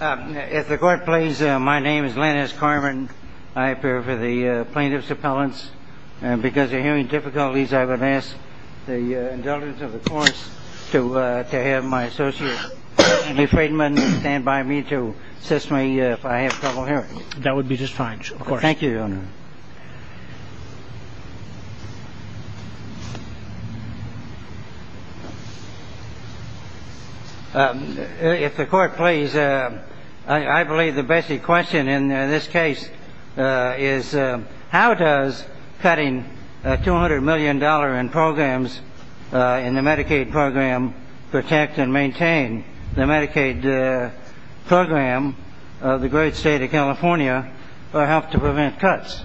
If the court please, my name is Lennis Carman. I appear before the plaintiff's appellants. Because of hearing difficulties, I would ask the indulgence of the courts to have my associate, Stanley Friedman, stand by me to assist me if I have trouble hearing. That would be just fine, of course. Thank you, Your Honor. If the court please, I believe the basic question in this case is, how does cutting a $200 million in programs in the Medicaid program protect and maintain the Medicaid program of the great state of California help to prevent cuts?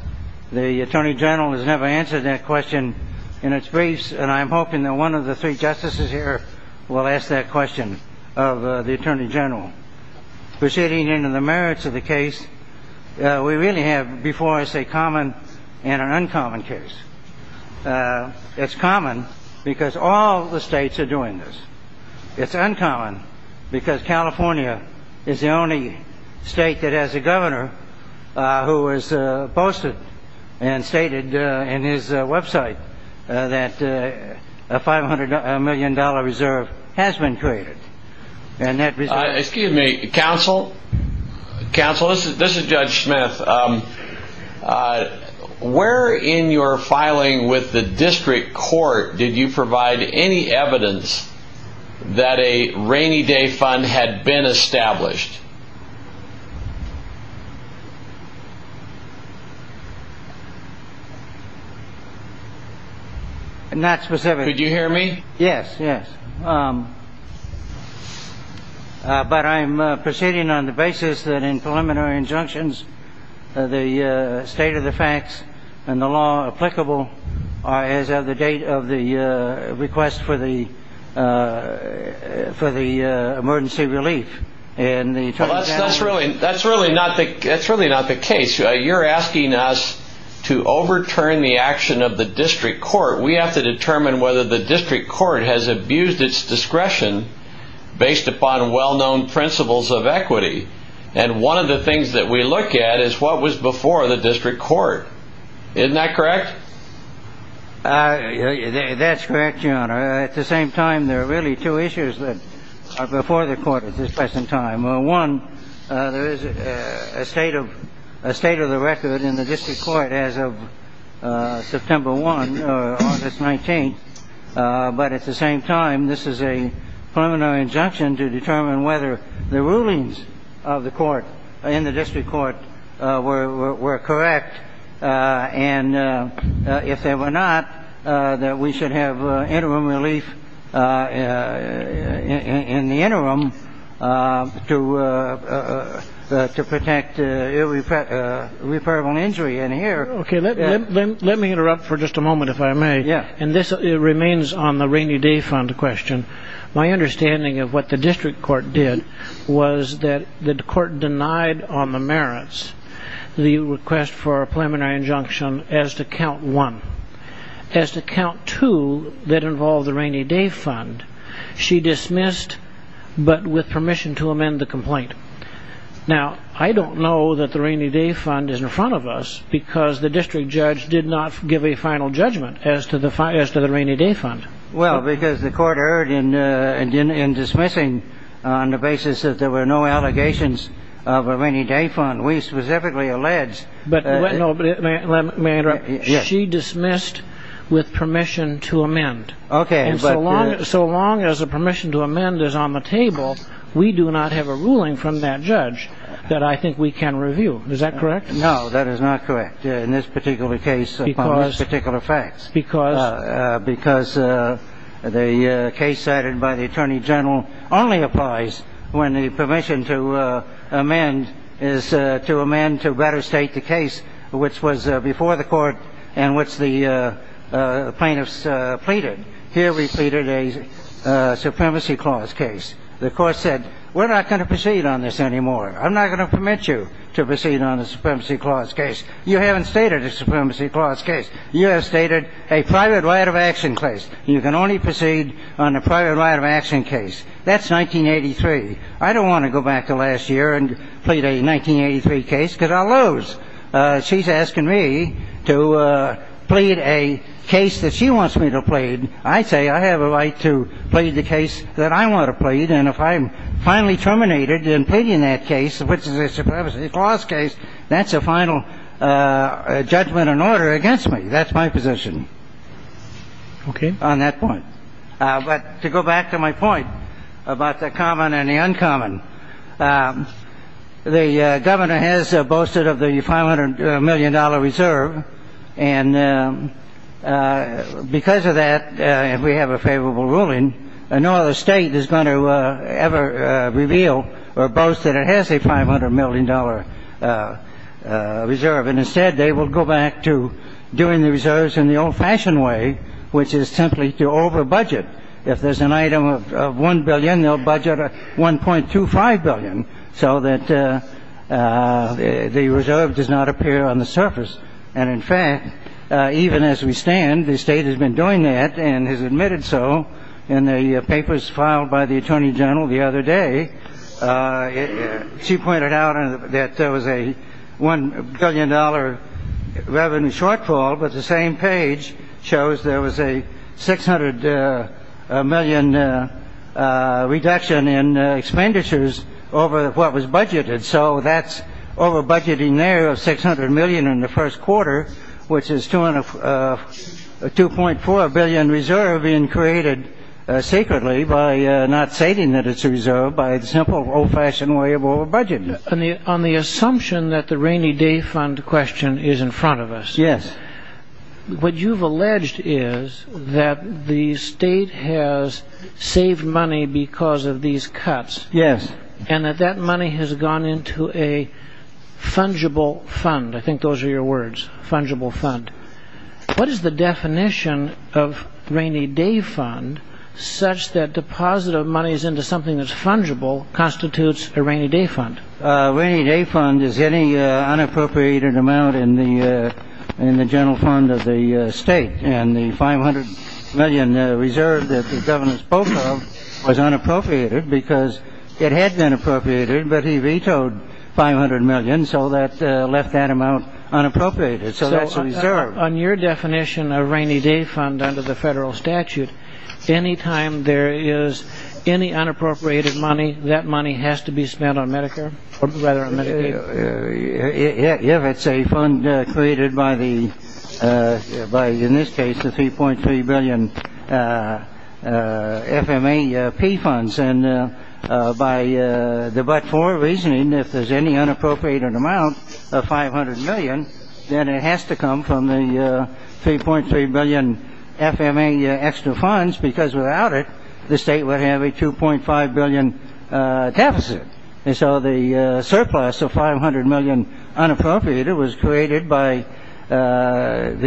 The Attorney General has never answered that question in its briefs, and I'm hoping that one of the three justices here will ask that question of the Attorney General. Proceeding into the merits of the case, we really have before us a common and an uncommon case. It's common because all the states are doing this. It's uncommon because California is the only state that has a governor who has posted and stated in his website that a $500 million reserve has been created. Excuse me, counsel. Counsel, this is Judge Smith. Where in your filing with the district court did you provide any evidence that a rainy day fund had been established? Not specifically. Could you hear me? Yes, yes. But I'm proceeding on the basis that in preliminary injunctions, the state of the facts and the law applicable as of the date of the request for the emergency relief. That's really not the case. You're asking us to overturn the action of the district court. We have to determine whether the district court has abused its discretion based upon well-known principles of equity. And one of the things that we look at is what was before the district court. Isn't that correct? That's correct, Your Honor. At the same time, there are really two issues that are before the court at this present time. One, there is a state of a state of the record in the district court as of September 1, August 19. But at the same time, this is a preliminary injunction to determine whether the rulings of the court in the district court were correct. And if they were not, that we should have interim relief in the interim to protect irreparable injury in here. Okay. Let me interrupt for just a moment, if I may. Yeah. And this remains on the rainy day fund question. My understanding of what the district court did was that the court denied on the merits the request for a preliminary injunction as to count one. As to count two that involved the rainy day fund, she dismissed but with permission to amend the complaint. Now, I don't know that the rainy day fund is in front of us because the district judge did not give a final judgment as to the rainy day fund. Well, because the court erred in dismissing on the basis that there were no allegations of a rainy day fund. We specifically allege. But let me interrupt. Yes. She dismissed with permission to amend. Okay. And so long as a permission to amend is on the table, we do not have a ruling from that judge that I think we can review. Is that correct? No, that is not correct in this particular case upon this particular fact. Because? Because the case cited by the attorney general only applies when the permission to amend is to amend to better state the case which was before the court and which the plaintiffs pleaded. Here we pleaded a supremacy clause case. The court said, we're not going to proceed on this anymore. I'm not going to permit you to proceed on the supremacy clause case. You haven't stated a supremacy clause case. You have stated a private right of action case. You can only proceed on a private right of action case. That's 1983. I don't want to go back to last year and plead a 1983 case because I'll lose. She's asking me to plead a case that she wants me to plead. I say I have a right to plead the case that I want to plead. And if I'm finally terminated in pleading that case, which is a supremacy clause case, that's a final judgment and order against me. That's my position. Okay. On that point. But to go back to my point about the common and the uncommon, the governor has boasted of the $500 million reserve. And because of that, we have a favorable ruling. No other state is going to ever reveal or boast that it has a $500 million reserve. And instead, they will go back to doing the reserves in the old-fashioned way, which is simply to overbudget. If there's an item of $1 billion, they'll budget $1.25 billion so that the reserve does not appear on the surface. And, in fact, even as we stand, the state has been doing that and has admitted so in the papers filed by the attorney general the other day. She pointed out that there was a $1 billion revenue shortfall, but the same page shows there was a $600 million reduction in expenditures over what was budgeted. So that's overbudgeting there of $600 million in the first quarter, which is $2.4 billion reserve being created secretly by not stating that it's reserved by the simple old-fashioned way of overbudgeting. On the assumption that the rainy day fund question is in front of us. Yes. What you've alleged is that the state has saved money because of these cuts. Yes. And that that money has gone into a fungible fund. I think those are your words, fungible fund. What is the definition of rainy day fund such that deposit of monies into something that's fungible constitutes a rainy day fund? A rainy day fund is any unappropriated amount in the general fund of the state. And the $500 million reserve that the governor spoke of was unappropriated because it had been appropriated, but he vetoed $500 million, so that left that amount unappropriated. So that's reserved. So on your definition of rainy day fund under the federal statute, any time there is any unappropriated money, that money has to be spent on Medicare or rather on Medicaid? If it's a fund created by the by, in this case, the 3.3 billion FMAP funds. And by the but-for reasoning, if there's any unappropriated amount of $500 million, then it has to come from the 3.3 billion FMA extra funds because without it, the state would have a $2.5 billion deficit. And so the surplus of $500 million unappropriated was created by the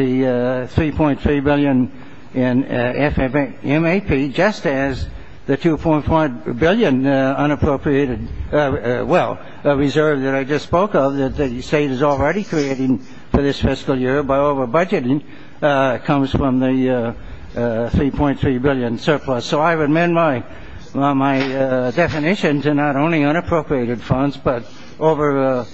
3.3 billion FMAP, just as the $2.5 billion unappropriated, well, reserve that I just spoke of that the state is already creating for this fiscal year, by over-budgeting, comes from the 3.3 billion surplus. So I would amend my definition to not only unappropriated funds, but over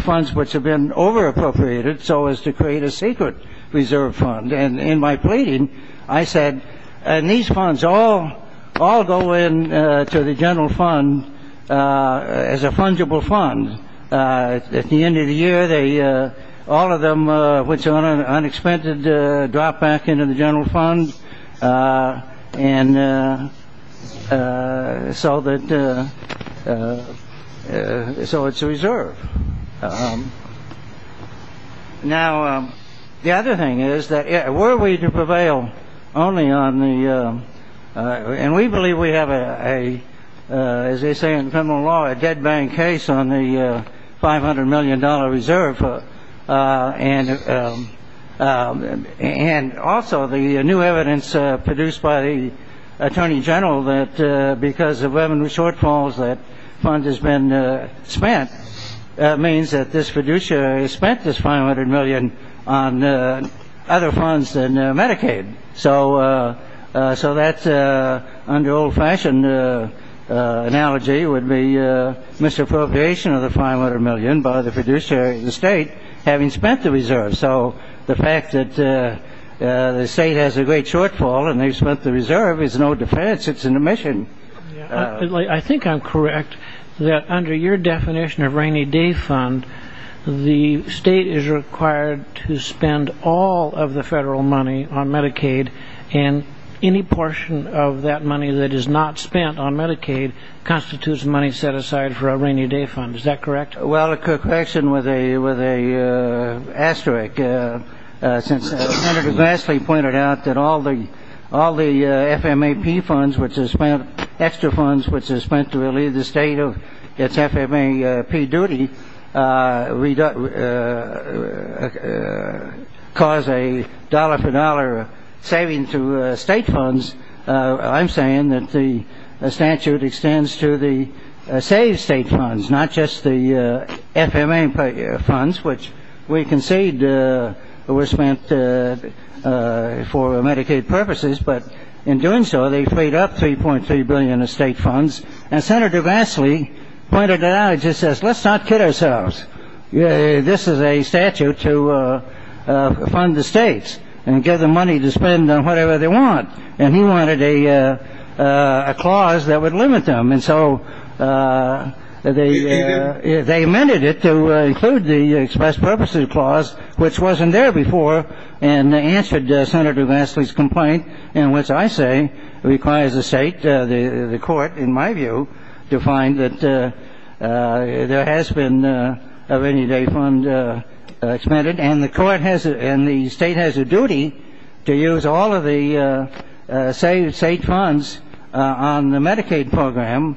funds which have been over-appropriated so as to create a secret reserve fund. And in my pleading, I said, and these funds all go into the general fund as a fungible fund. At the end of the year, all of them, which are on an unexpended, drop back into the general fund. And so it's a reserve. Now, the other thing is that were we to prevail only on the – $500 million reserve, and also the new evidence produced by the attorney general that because of revenue shortfalls that fund has been spent, that means that this fiduciary has spent this $500 million on other funds than Medicaid. So that's under old-fashioned analogy would be misappropriation of the $500 million by the fiduciary of the state having spent the reserve. So the fact that the state has a great shortfall and they've spent the reserve is no defense. It's an omission. I think I'm correct that under your definition of rainy day fund, the state is required to spend all of the federal money on Medicaid, and any portion of that money that is not spent on Medicaid constitutes money set aside for a rainy day fund. Is that correct? Senator Grassley pointed out that all the FMAP funds, which are spent – extra funds which are spent to relieve the state of its FMAP duty cause a dollar-for-dollar saving to state funds. I'm saying that the statute extends to the saved state funds, not just the FMA funds, which we concede were spent for Medicaid purposes. But in doing so, they freed up $3.3 billion of state funds. And Senator Grassley pointed it out. He just says, let's not kid ourselves. This is a statute to fund the states and give them money to spend on whatever they want. And he wanted a clause that would limit them. And so they amended it to include the express purposes clause, which wasn't there before, and answered Senator Grassley's complaint in which I say it requires the state, the court, in my view, to find that there has been a rainy day fund expended. And the state has a duty to use all of the saved state funds on the Medicaid program.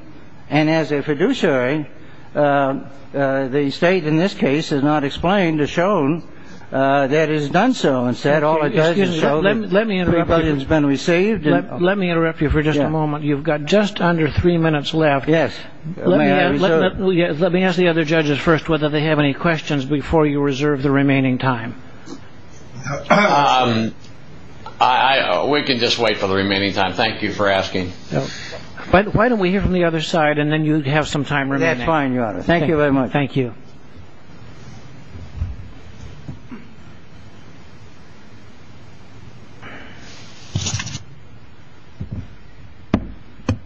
And as a fiduciary, the state in this case has not explained or shown that it has done so. Instead, all it does is show that $3.3 billion has been received. Let me interrupt you for just a moment. You've got just under three minutes left. Yes. Let me ask the other judges first whether they have any questions before you reserve the remaining time. We can just wait for the remaining time. Thank you for asking. Why don't we hear from the other side and then you have some time remaining. That's fine, Your Honor. Thank you very much. Thank you.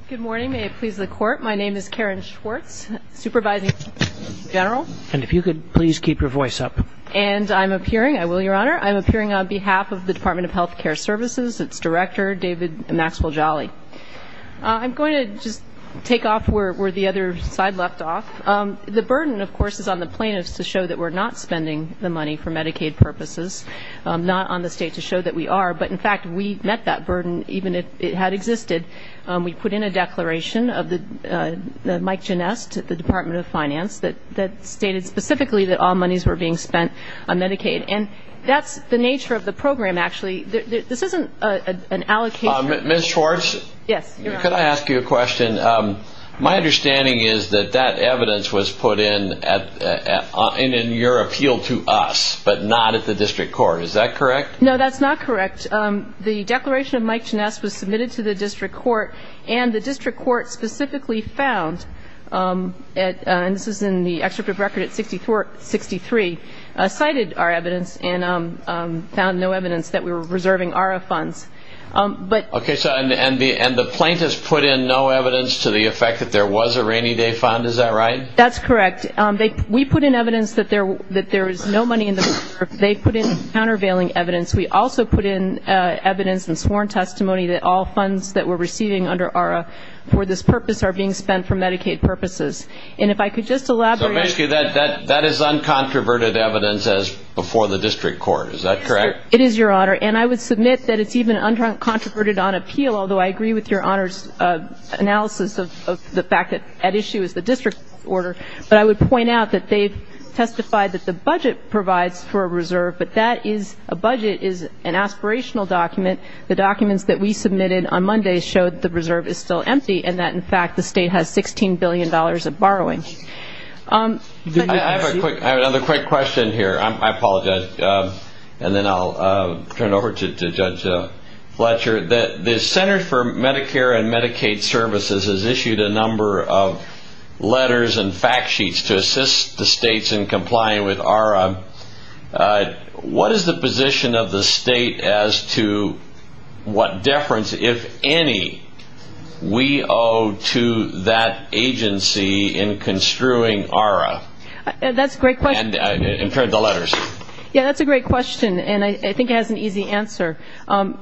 Good morning. May it please the Court. My name is Karen Schwartz, Supervising Attorney General. And if you could please keep your voice up. And I'm appearing, I will, Your Honor. I'm appearing on behalf of the Department of Health Care Services, its director, David Maxwell Jolly. I'm going to just take off where the other side left off. The burden, of course, is on the plaintiffs to show that we're not spending the money for Medicaid purposes, not on the state to show that we are. But, in fact, we met that burden even if it had existed. We put in a declaration of Mike Genest, the Department of Finance, that stated specifically that all monies were being spent on Medicaid. And that's the nature of the program, actually. This isn't an allocation. Ms. Schwartz? Yes, Your Honor. Could I ask you a question? My understanding is that that evidence was put in in your appeal to us, but not at the district court. Is that correct? No, that's not correct. The declaration of Mike Genest was submitted to the district court, and the district court specifically found, and this is in the excerpt of record at 64-63, cited our evidence and found no evidence that we were reserving ARRA funds. Okay. And the plaintiffs put in no evidence to the effect that there was a Rainy Day Fund. Is that right? That's correct. We put in evidence that there was no money in the fund. They put in countervailing evidence. We also put in evidence and sworn testimony that all funds that we're receiving under ARRA for this purpose are being spent for Medicaid purposes. And if I could just elaborate. So basically that is uncontroverted evidence as before the district court. Is that correct? It is, Your Honor. And I would submit that it's even uncontroverted on appeal, although I agree with Your Honor's analysis of the fact that at issue is the district court. But I would point out that they've testified that the budget provides for a reserve, but that is a budget is an aspirational document. The documents that we submitted on Monday showed the reserve is still empty and that, in fact, the state has $16 billion of borrowing. I have another quick question here. I apologize. And then I'll turn it over to Judge Fletcher. to assist the states in complying with ARRA. What is the position of the state as to what deference, if any, we owe to that agency in construing ARRA? That's a great question. And turn to the letters. Yeah, that's a great question, and I think it has an easy answer.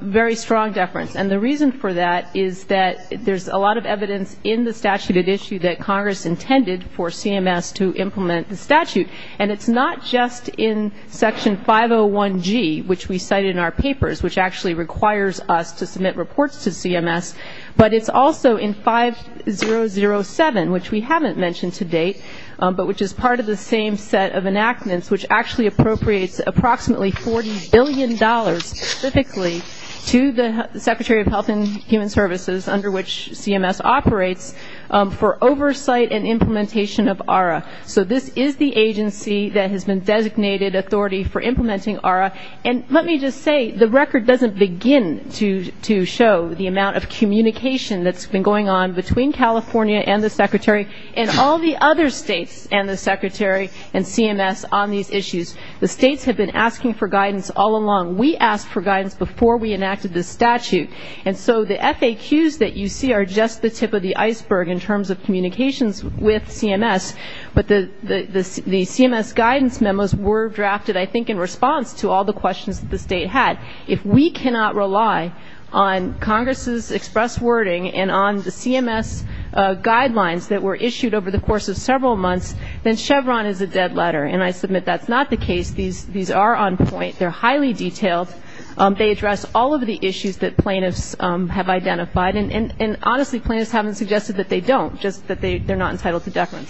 Very strong deference. And the reason for that is that there's a lot of evidence in the statute at issue that Congress intended for CMS to implement the statute. And it's not just in Section 501G, which we cite in our papers, which actually requires us to submit reports to CMS, but it's also in 5007, which we haven't mentioned to date, but which is part of the same set of enactments, which actually appropriates approximately $40 billion specifically to the Secretary of Health and Human Services, under which CMS operates, for oversight and implementation of ARRA. So this is the agency that has been designated authority for implementing ARRA. And let me just say, the record doesn't begin to show the amount of communication that's been going on between California and the Secretary and all the other states and the Secretary and CMS on these issues. The states have been asking for guidance all along. We asked for guidance before we enacted this statute. And so the FAQs that you see are just the tip of the iceberg in terms of communications with CMS. But the CMS guidance memos were drafted, I think, in response to all the questions that the state had. If we cannot rely on Congress's express wording and on the CMS guidelines that were issued over the course of several months, then Chevron is a dead letter. And I submit that's not the case. These are on point. They're highly detailed. They address all of the issues that plaintiffs have identified. And honestly, plaintiffs haven't suggested that they don't, just that they're not entitled to deference.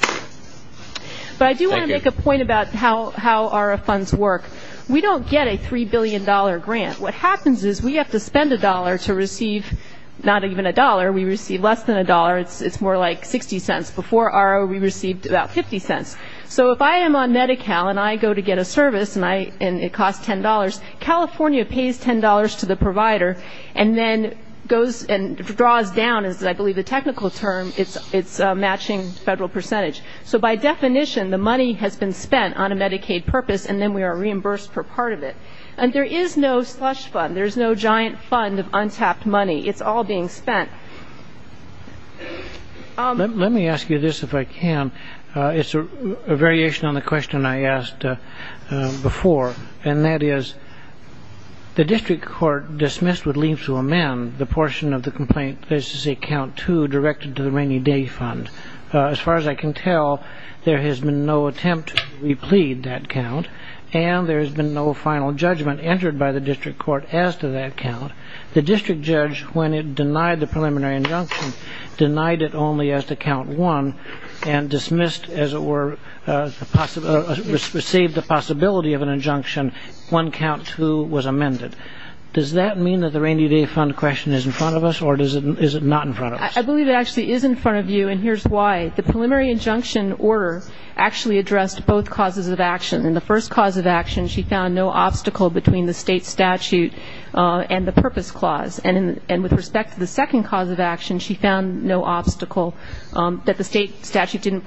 But I do want to make a point about how ARRA funds work. We don't get a $3 billion grant. What happens is we have to spend a dollar to receive not even a dollar. We receive less than a dollar. It's more like 60 cents. Before ARRA we received about 50 cents. So if I am on Medi-Cal and I go to get a service and it costs $10, California pays $10 to the provider and then goes and draws down, as I believe the technical term, its matching federal percentage. So by definition the money has been spent on a Medicaid purpose and then we are reimbursed for part of it. And there is no slush fund. There's no giant fund of untapped money. It's all being spent. Let me ask you this, if I can. It's a variation on the question I asked before, and that is the district court dismissed would leave to amend the portion of the complaint, this is account two, directed to the Rainy Day Fund. As far as I can tell, there has been no attempt to replead that count and there has been no final judgment entered by the district court as to that count. The district judge, when it denied the preliminary injunction, denied it only as to count one and dismissed, as it were, received the possibility of an injunction when count two was amended. Does that mean that the Rainy Day Fund question is in front of us or is it not in front of us? I believe it actually is in front of you, and here's why. The preliminary injunction order actually addressed both causes of action. In the first cause of action, she found no obstacle between the state statute and the purpose clause. And with respect to the second cause of action, she found no obstacle that the state statute didn't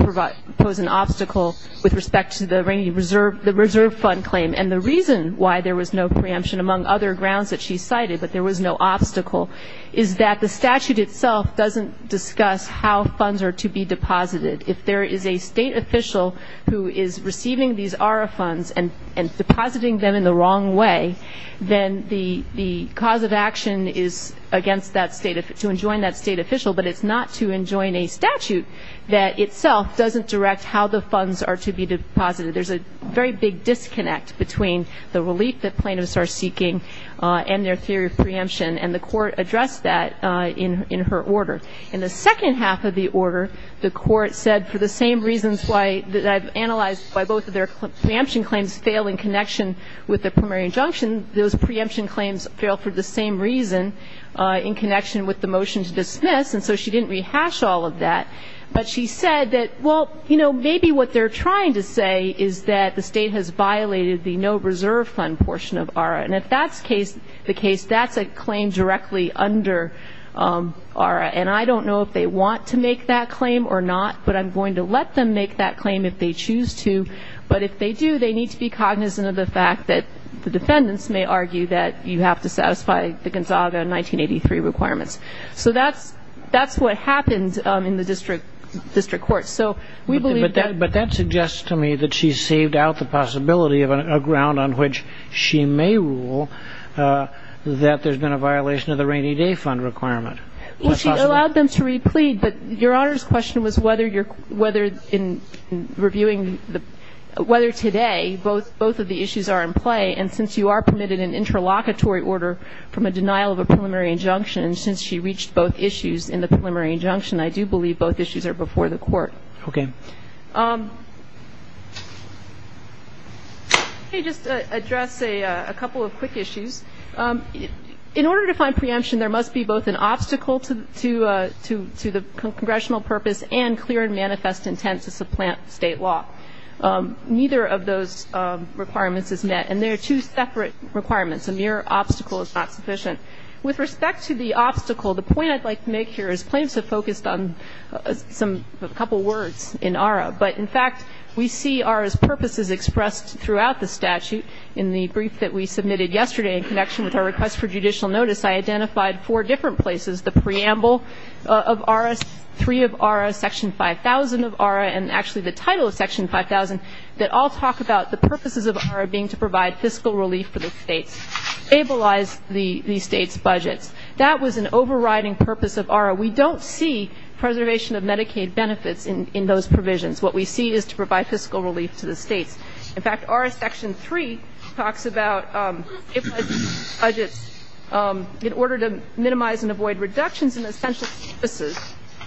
pose an obstacle with respect to the reserve fund claim. And the reason why there was no preemption, among other grounds that she cited, but there was no obstacle, is that the statute itself doesn't discuss how funds are to be deposited. If there is a state official who is receiving these ARRA funds and depositing them in the wrong way, then the cause of action is to enjoin that state official, but it's not to enjoin a statute that itself doesn't direct how the funds are to be deposited. There's a very big disconnect between the relief that plaintiffs are seeking and their theory of preemption, and the court addressed that in her order. In the second half of the order, the court said, for the same reasons that I've analyzed by both of their preemption claims fail in connection with the preliminary injunction, those preemption claims fail for the same reason in connection with the motion to dismiss, and so she didn't rehash all of that. But she said that, well, you know, maybe what they're trying to say is that the state has violated the no reserve fund portion of ARRA. And if that's the case, that's a claim directly under ARRA, and I don't know if they want to make that claim or not, but I'm going to let them make that claim if they choose to. But if they do, they need to be cognizant of the fact that the defendants may argue that you have to satisfy the Gonzaga 1983 requirements. So that's what happened in the district court. But that suggests to me that she's saved out the possibility of a ground on which she may rule that there's been a violation of the rainy day fund requirement. Well, she allowed them to replead, but Your Honor's question was whether in reviewing whether today both of the issues are in play, and since you are permitted an interlocutory order from a denial of a preliminary injunction, and since she reached both issues in the preliminary injunction, I do believe both issues are before the court. Okay. Thank you. Let me just address a couple of quick issues. In order to find preemption, there must be both an obstacle to the congressional purpose and clear and manifest intent to supplant state law. Neither of those requirements is met, and they are two separate requirements. A mere obstacle is not sufficient. With respect to the obstacle, the point I'd like to make here is that the claims have focused on a couple words in ARRA, but in fact we see ARRA's purposes expressed throughout the statute. In the brief that we submitted yesterday in connection with our request for judicial notice, I identified four different places, the preamble of ARRA, three of ARRA, Section 5000 of ARRA, and actually the title of Section 5000, that all talk about the purposes of ARRA being to provide fiscal relief for the states, stabilize the states' budgets. That was an overriding purpose of ARRA. We don't see preservation of Medicaid benefits in those provisions. What we see is to provide fiscal relief to the states. In fact, ARRA Section 3 talks about stabilize the states' budgets in order to minimize and avoid reductions in essential services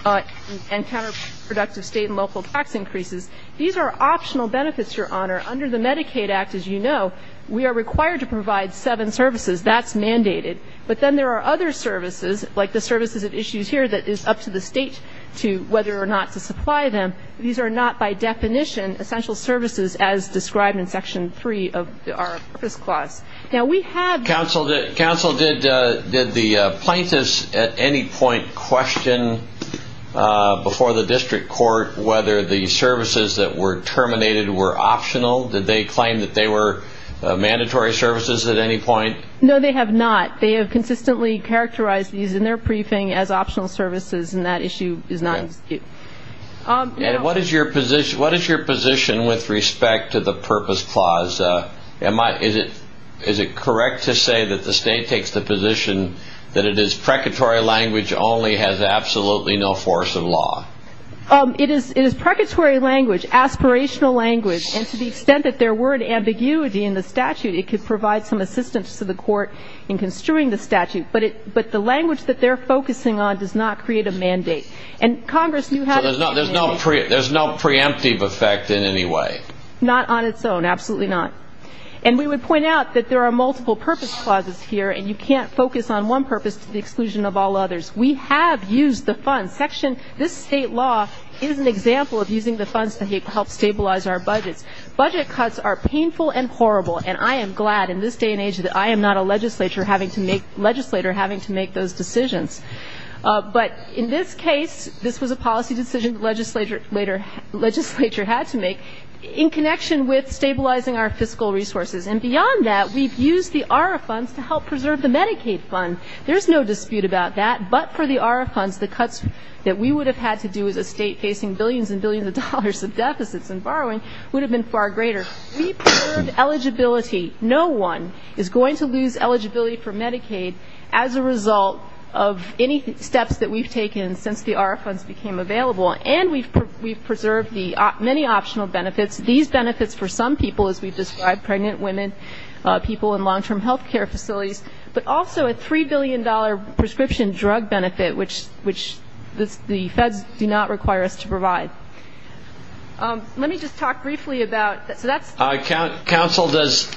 and counterproductive state and local tax increases. These are optional benefits, Your Honor. Under the Medicaid Act, as you know, we are required to provide seven services. That's mandated. But then there are other services, like the services at issues here, that is up to the state to whether or not to supply them. These are not by definition essential services as described in Section 3 of the ARRA Purpose Clause. Now we have the- Counsel, did the plaintiffs at any point question before the district court whether the services that were terminated were optional? Did they claim that they were mandatory services at any point? No, they have not. They have consistently characterized these in their briefing as optional services, and that issue is not in dispute. What is your position with respect to the Purpose Clause? Is it correct to say that the state takes the position that it is precatory language only has absolutely no force of law? It is precatory language, aspirational language, and to the extent that there were an ambiguity in the statute, it could provide some assistance to the court in construing the statute. But the language that they're focusing on does not create a mandate. And Congress knew how to create a mandate. So there's no preemptive effect in any way? Not on its own, absolutely not. And we would point out that there are multiple Purpose Clauses here, and you can't focus on one purpose to the exclusion of all others. We have used the funds. This state law is an example of using the funds to help stabilize our budgets. Budget cuts are painful and horrible, and I am glad in this day and age that I am not a legislator having to make those decisions. But in this case, this was a policy decision the legislature had to make in connection with stabilizing our fiscal resources. And beyond that, we've used the ARRA funds to help preserve the Medicaid fund. There's no dispute about that. But for the ARRA funds, the cuts that we would have had to do as a state facing billions and billions of dollars of deficits and borrowing would have been far greater. We preserved eligibility. No one is going to lose eligibility for Medicaid as a result of any steps that we've taken since the ARRA funds became available. And we've preserved the many optional benefits, these benefits for some people, as we've described, pregnant women, people in long-term health care facilities, but also a $3 billion prescription drug benefit, which the feds do not require us to provide. Let me just talk briefly about that. Counsel, does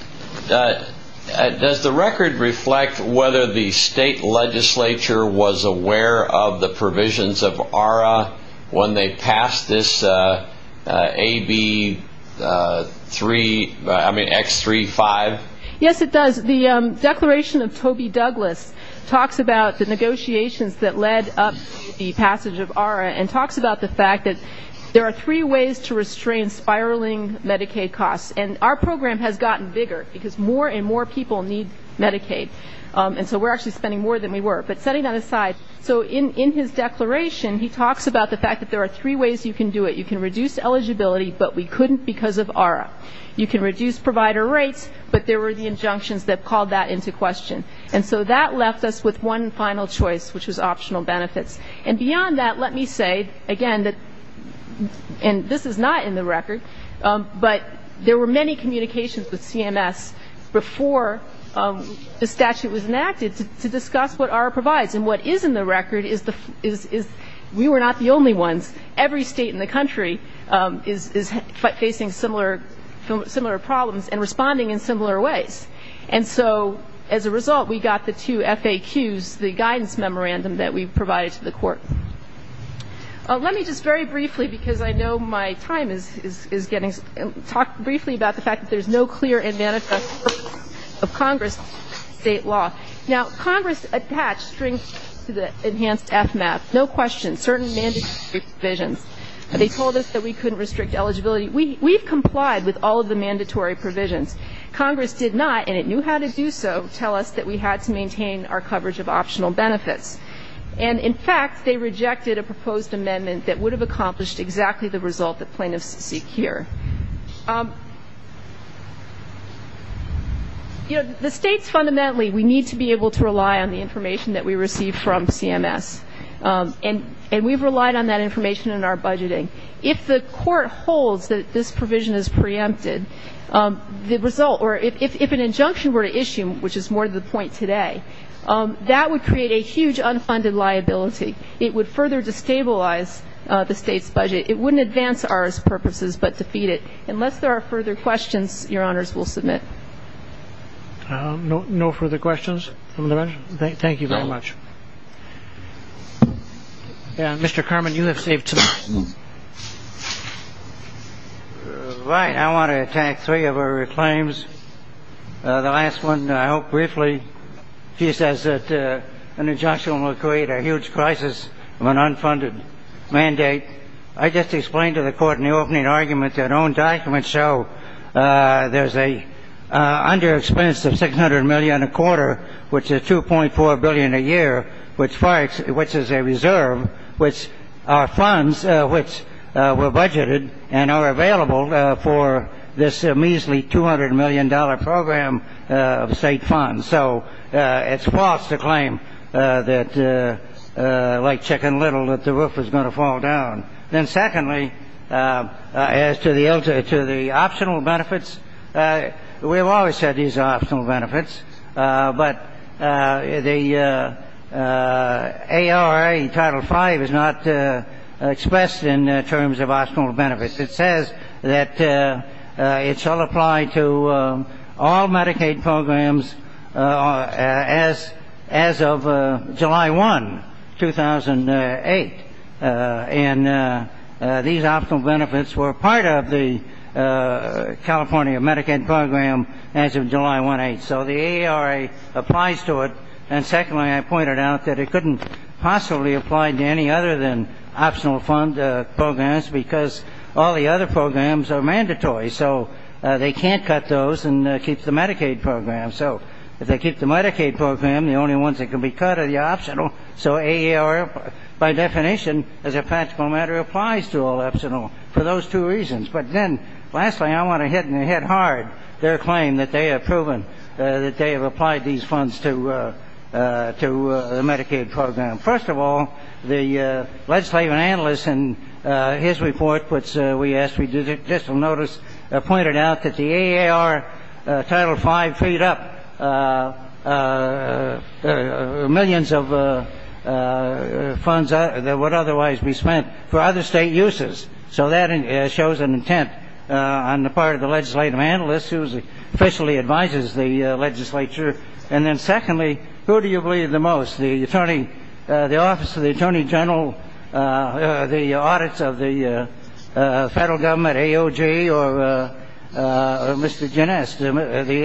the record reflect whether the state legislature was aware of the provisions of ARRA when they passed this AB3, I mean, X35? Yes, it does. The declaration of Toby Douglas talks about the negotiations that led up to the passage of ARRA and talks about the fact that there are three ways to restrain spiraling Medicaid costs. And our program has gotten bigger, because more and more people need Medicaid. And so we're actually spending more than we were. But setting that aside, so in his declaration, he talks about the fact that there are three ways you can do it. You can reduce eligibility, but we couldn't because of ARRA. You can reduce provider rates, but there were the injunctions that called that into question. And so that left us with one final choice, which was optional benefits. And beyond that, let me say, again, that this is not in the record, but there were many communications with CMS before the statute was enacted to discuss what ARRA provides. And what is in the record is we were not the only ones. Every state in the country is facing similar problems and responding in similar ways. And so as a result, we got the two FAQs, the guidance memorandum that we provided to the court. Let me just very briefly, because I know my time is getting ‑‑ talk briefly about the fact that there's no clear and manifest purpose of Congress state law. Now, Congress attached strings to the enhanced FMAP. No question, certain mandatory provisions. They told us that we couldn't restrict eligibility. We've complied with all of the mandatory provisions. Congress did not, and it knew how to do so, tell us that we had to maintain our coverage of optional benefits. And, in fact, they rejected a proposed amendment that would have accomplished exactly the result that plaintiffs seek here. You know, the states fundamentally, we need to be able to rely on the information that we receive from CMS. And we've relied on that information in our budgeting. If the court holds that this provision is preempted, the result, or if an injunction were to issue, which is more to the point today, that would create a huge unfunded liability. It would further destabilize the state's budget. It wouldn't advance ours purposes, but defeat it. Unless there are further questions, Your Honors will submit. No further questions from the bench? Thank you very much. Mr. Carman, you have saved time. Right. I want to attack three of her claims. The last one, I hope briefly. She says that an injunction will create a huge crisis of an unfunded mandate. I just explained to the Court in the opening argument that own documents show there's an underexpense of $600 million a quarter, which is $2.4 billion a year, which is a reserve, which are funds which were budgeted and are available for this measly $200 million program of state funds. So it's false to claim that, like Chicken Little, that the roof was going to fall down. Then secondly, as to the optional benefits, we've always said these are optional benefits, but the ARA Title V is not expressed in terms of optional benefits. It says that it shall apply to all Medicaid programs as of July 1, 2008, and these optional benefits were part of the California Medicaid program as of July 1, 2008. So the ARA applies to it. And secondly, I pointed out that it couldn't possibly apply to any other than optional programs because all the other programs are mandatory, so they can't cut those and keep the Medicaid program. So if they keep the Medicaid program, the only ones that can be cut are the optional. So ARA, by definition, as a practical matter, applies to all optional for those two reasons. But then lastly, I want to hit hard their claim that they have proven that they have applied these funds to the Medicaid program. First of all, the legislative analyst in his report, which we asked for judicial notice, pointed out that the AAR Title V freed up millions of funds that would otherwise be spent for other state uses. So that shows an intent on the part of the legislative analyst who officially advises the legislature. And then secondly, who do you believe the most? The Attorney General, the audits of the federal government, AOJ, or Mr. Genest. The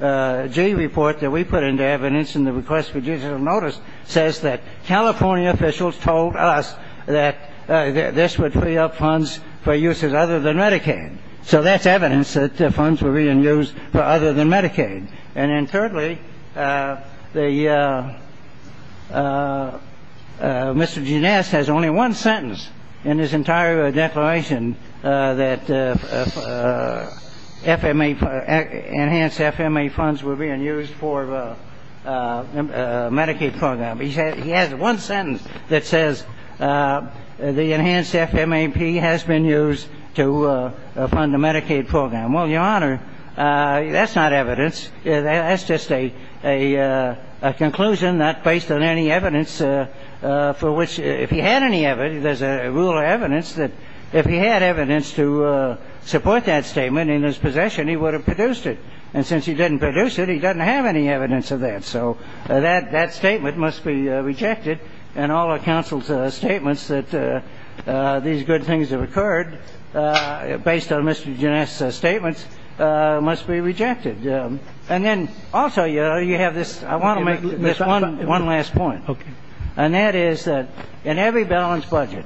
AOJ report that we put into evidence in the request for judicial notice says that California officials told us that this would free up funds for uses other than Medicaid. So that's evidence that the funds were being used for other than Medicaid. And then thirdly, Mr. Genest has only one sentence in his entire declaration that enhanced FMA funds were being used for Medicaid program. He has one sentence that says the enhanced FMAP has been used to fund the Medicaid program. Well, Your Honor, that's not evidence. That's just a conclusion not based on any evidence for which if he had any evidence, there's a rule of evidence that if he had evidence to support that statement in his possession, he would have produced it. And since he didn't produce it, he doesn't have any evidence of that. So that statement must be rejected. And all of counsel's statements that these good things have occurred based on Mr. Genest's statements must be rejected. And then also, Your Honor, you have this. I want to make this one last point. And that is that in every balanced budget,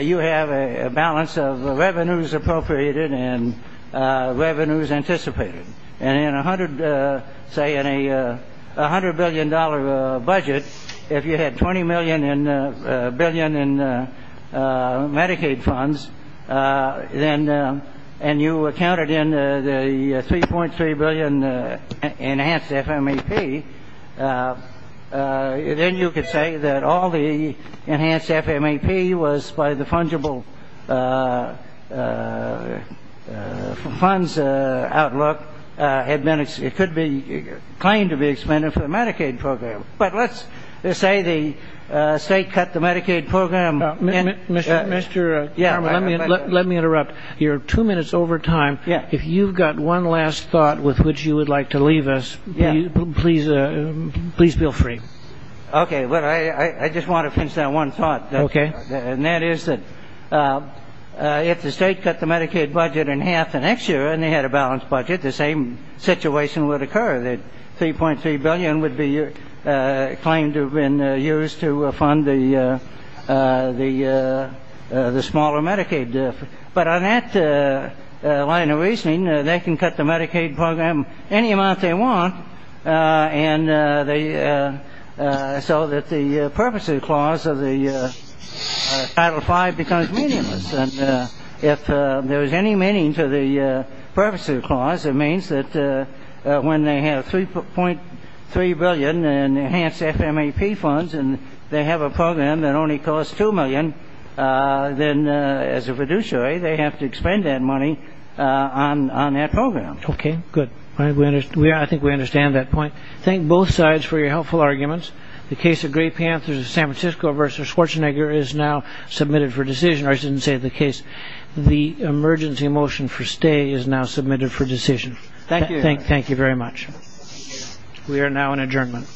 you have a balance of revenues appropriated and revenues anticipated. Say in a $100 billion budget, if you had $20 billion in Medicaid funds and you accounted in the $3.3 billion enhanced FMAP, then you could say that all the enhanced FMAP was by the fungible funds outlook. It could be claimed to be expended for the Medicaid program. But let's say the state cut the Medicaid program. Mr. Chairman, let me interrupt. You're two minutes over time. If you've got one last thought with which you would like to leave us, please feel free. Okay. Well, I just want to finish that one thought. Okay. And that is that if the state cut the Medicaid budget in half the next year and they had a balanced budget, the same situation would occur. The $3.3 billion would be claimed to have been used to fund the smaller Medicaid. But on that line of reasoning, they can cut the Medicaid program any amount they want so that the purpose of the clause of Title V becomes meaningless. And if there is any meaning to the purpose of the clause, it means that when they have $3.3 billion in enhanced FMAP funds and they have a program that only costs $2 million, then as a fiduciary, they have to expend that money on that program. Okay. Good. I think we understand that point. Thank both sides for your helpful arguments. The case of Gray Panthers of San Francisco versus Schwarzenegger is now submitted for decision. I shouldn't say the case. The emergency motion for stay is now submitted for decision. Thank you. Thank you very much. We are now in adjournment.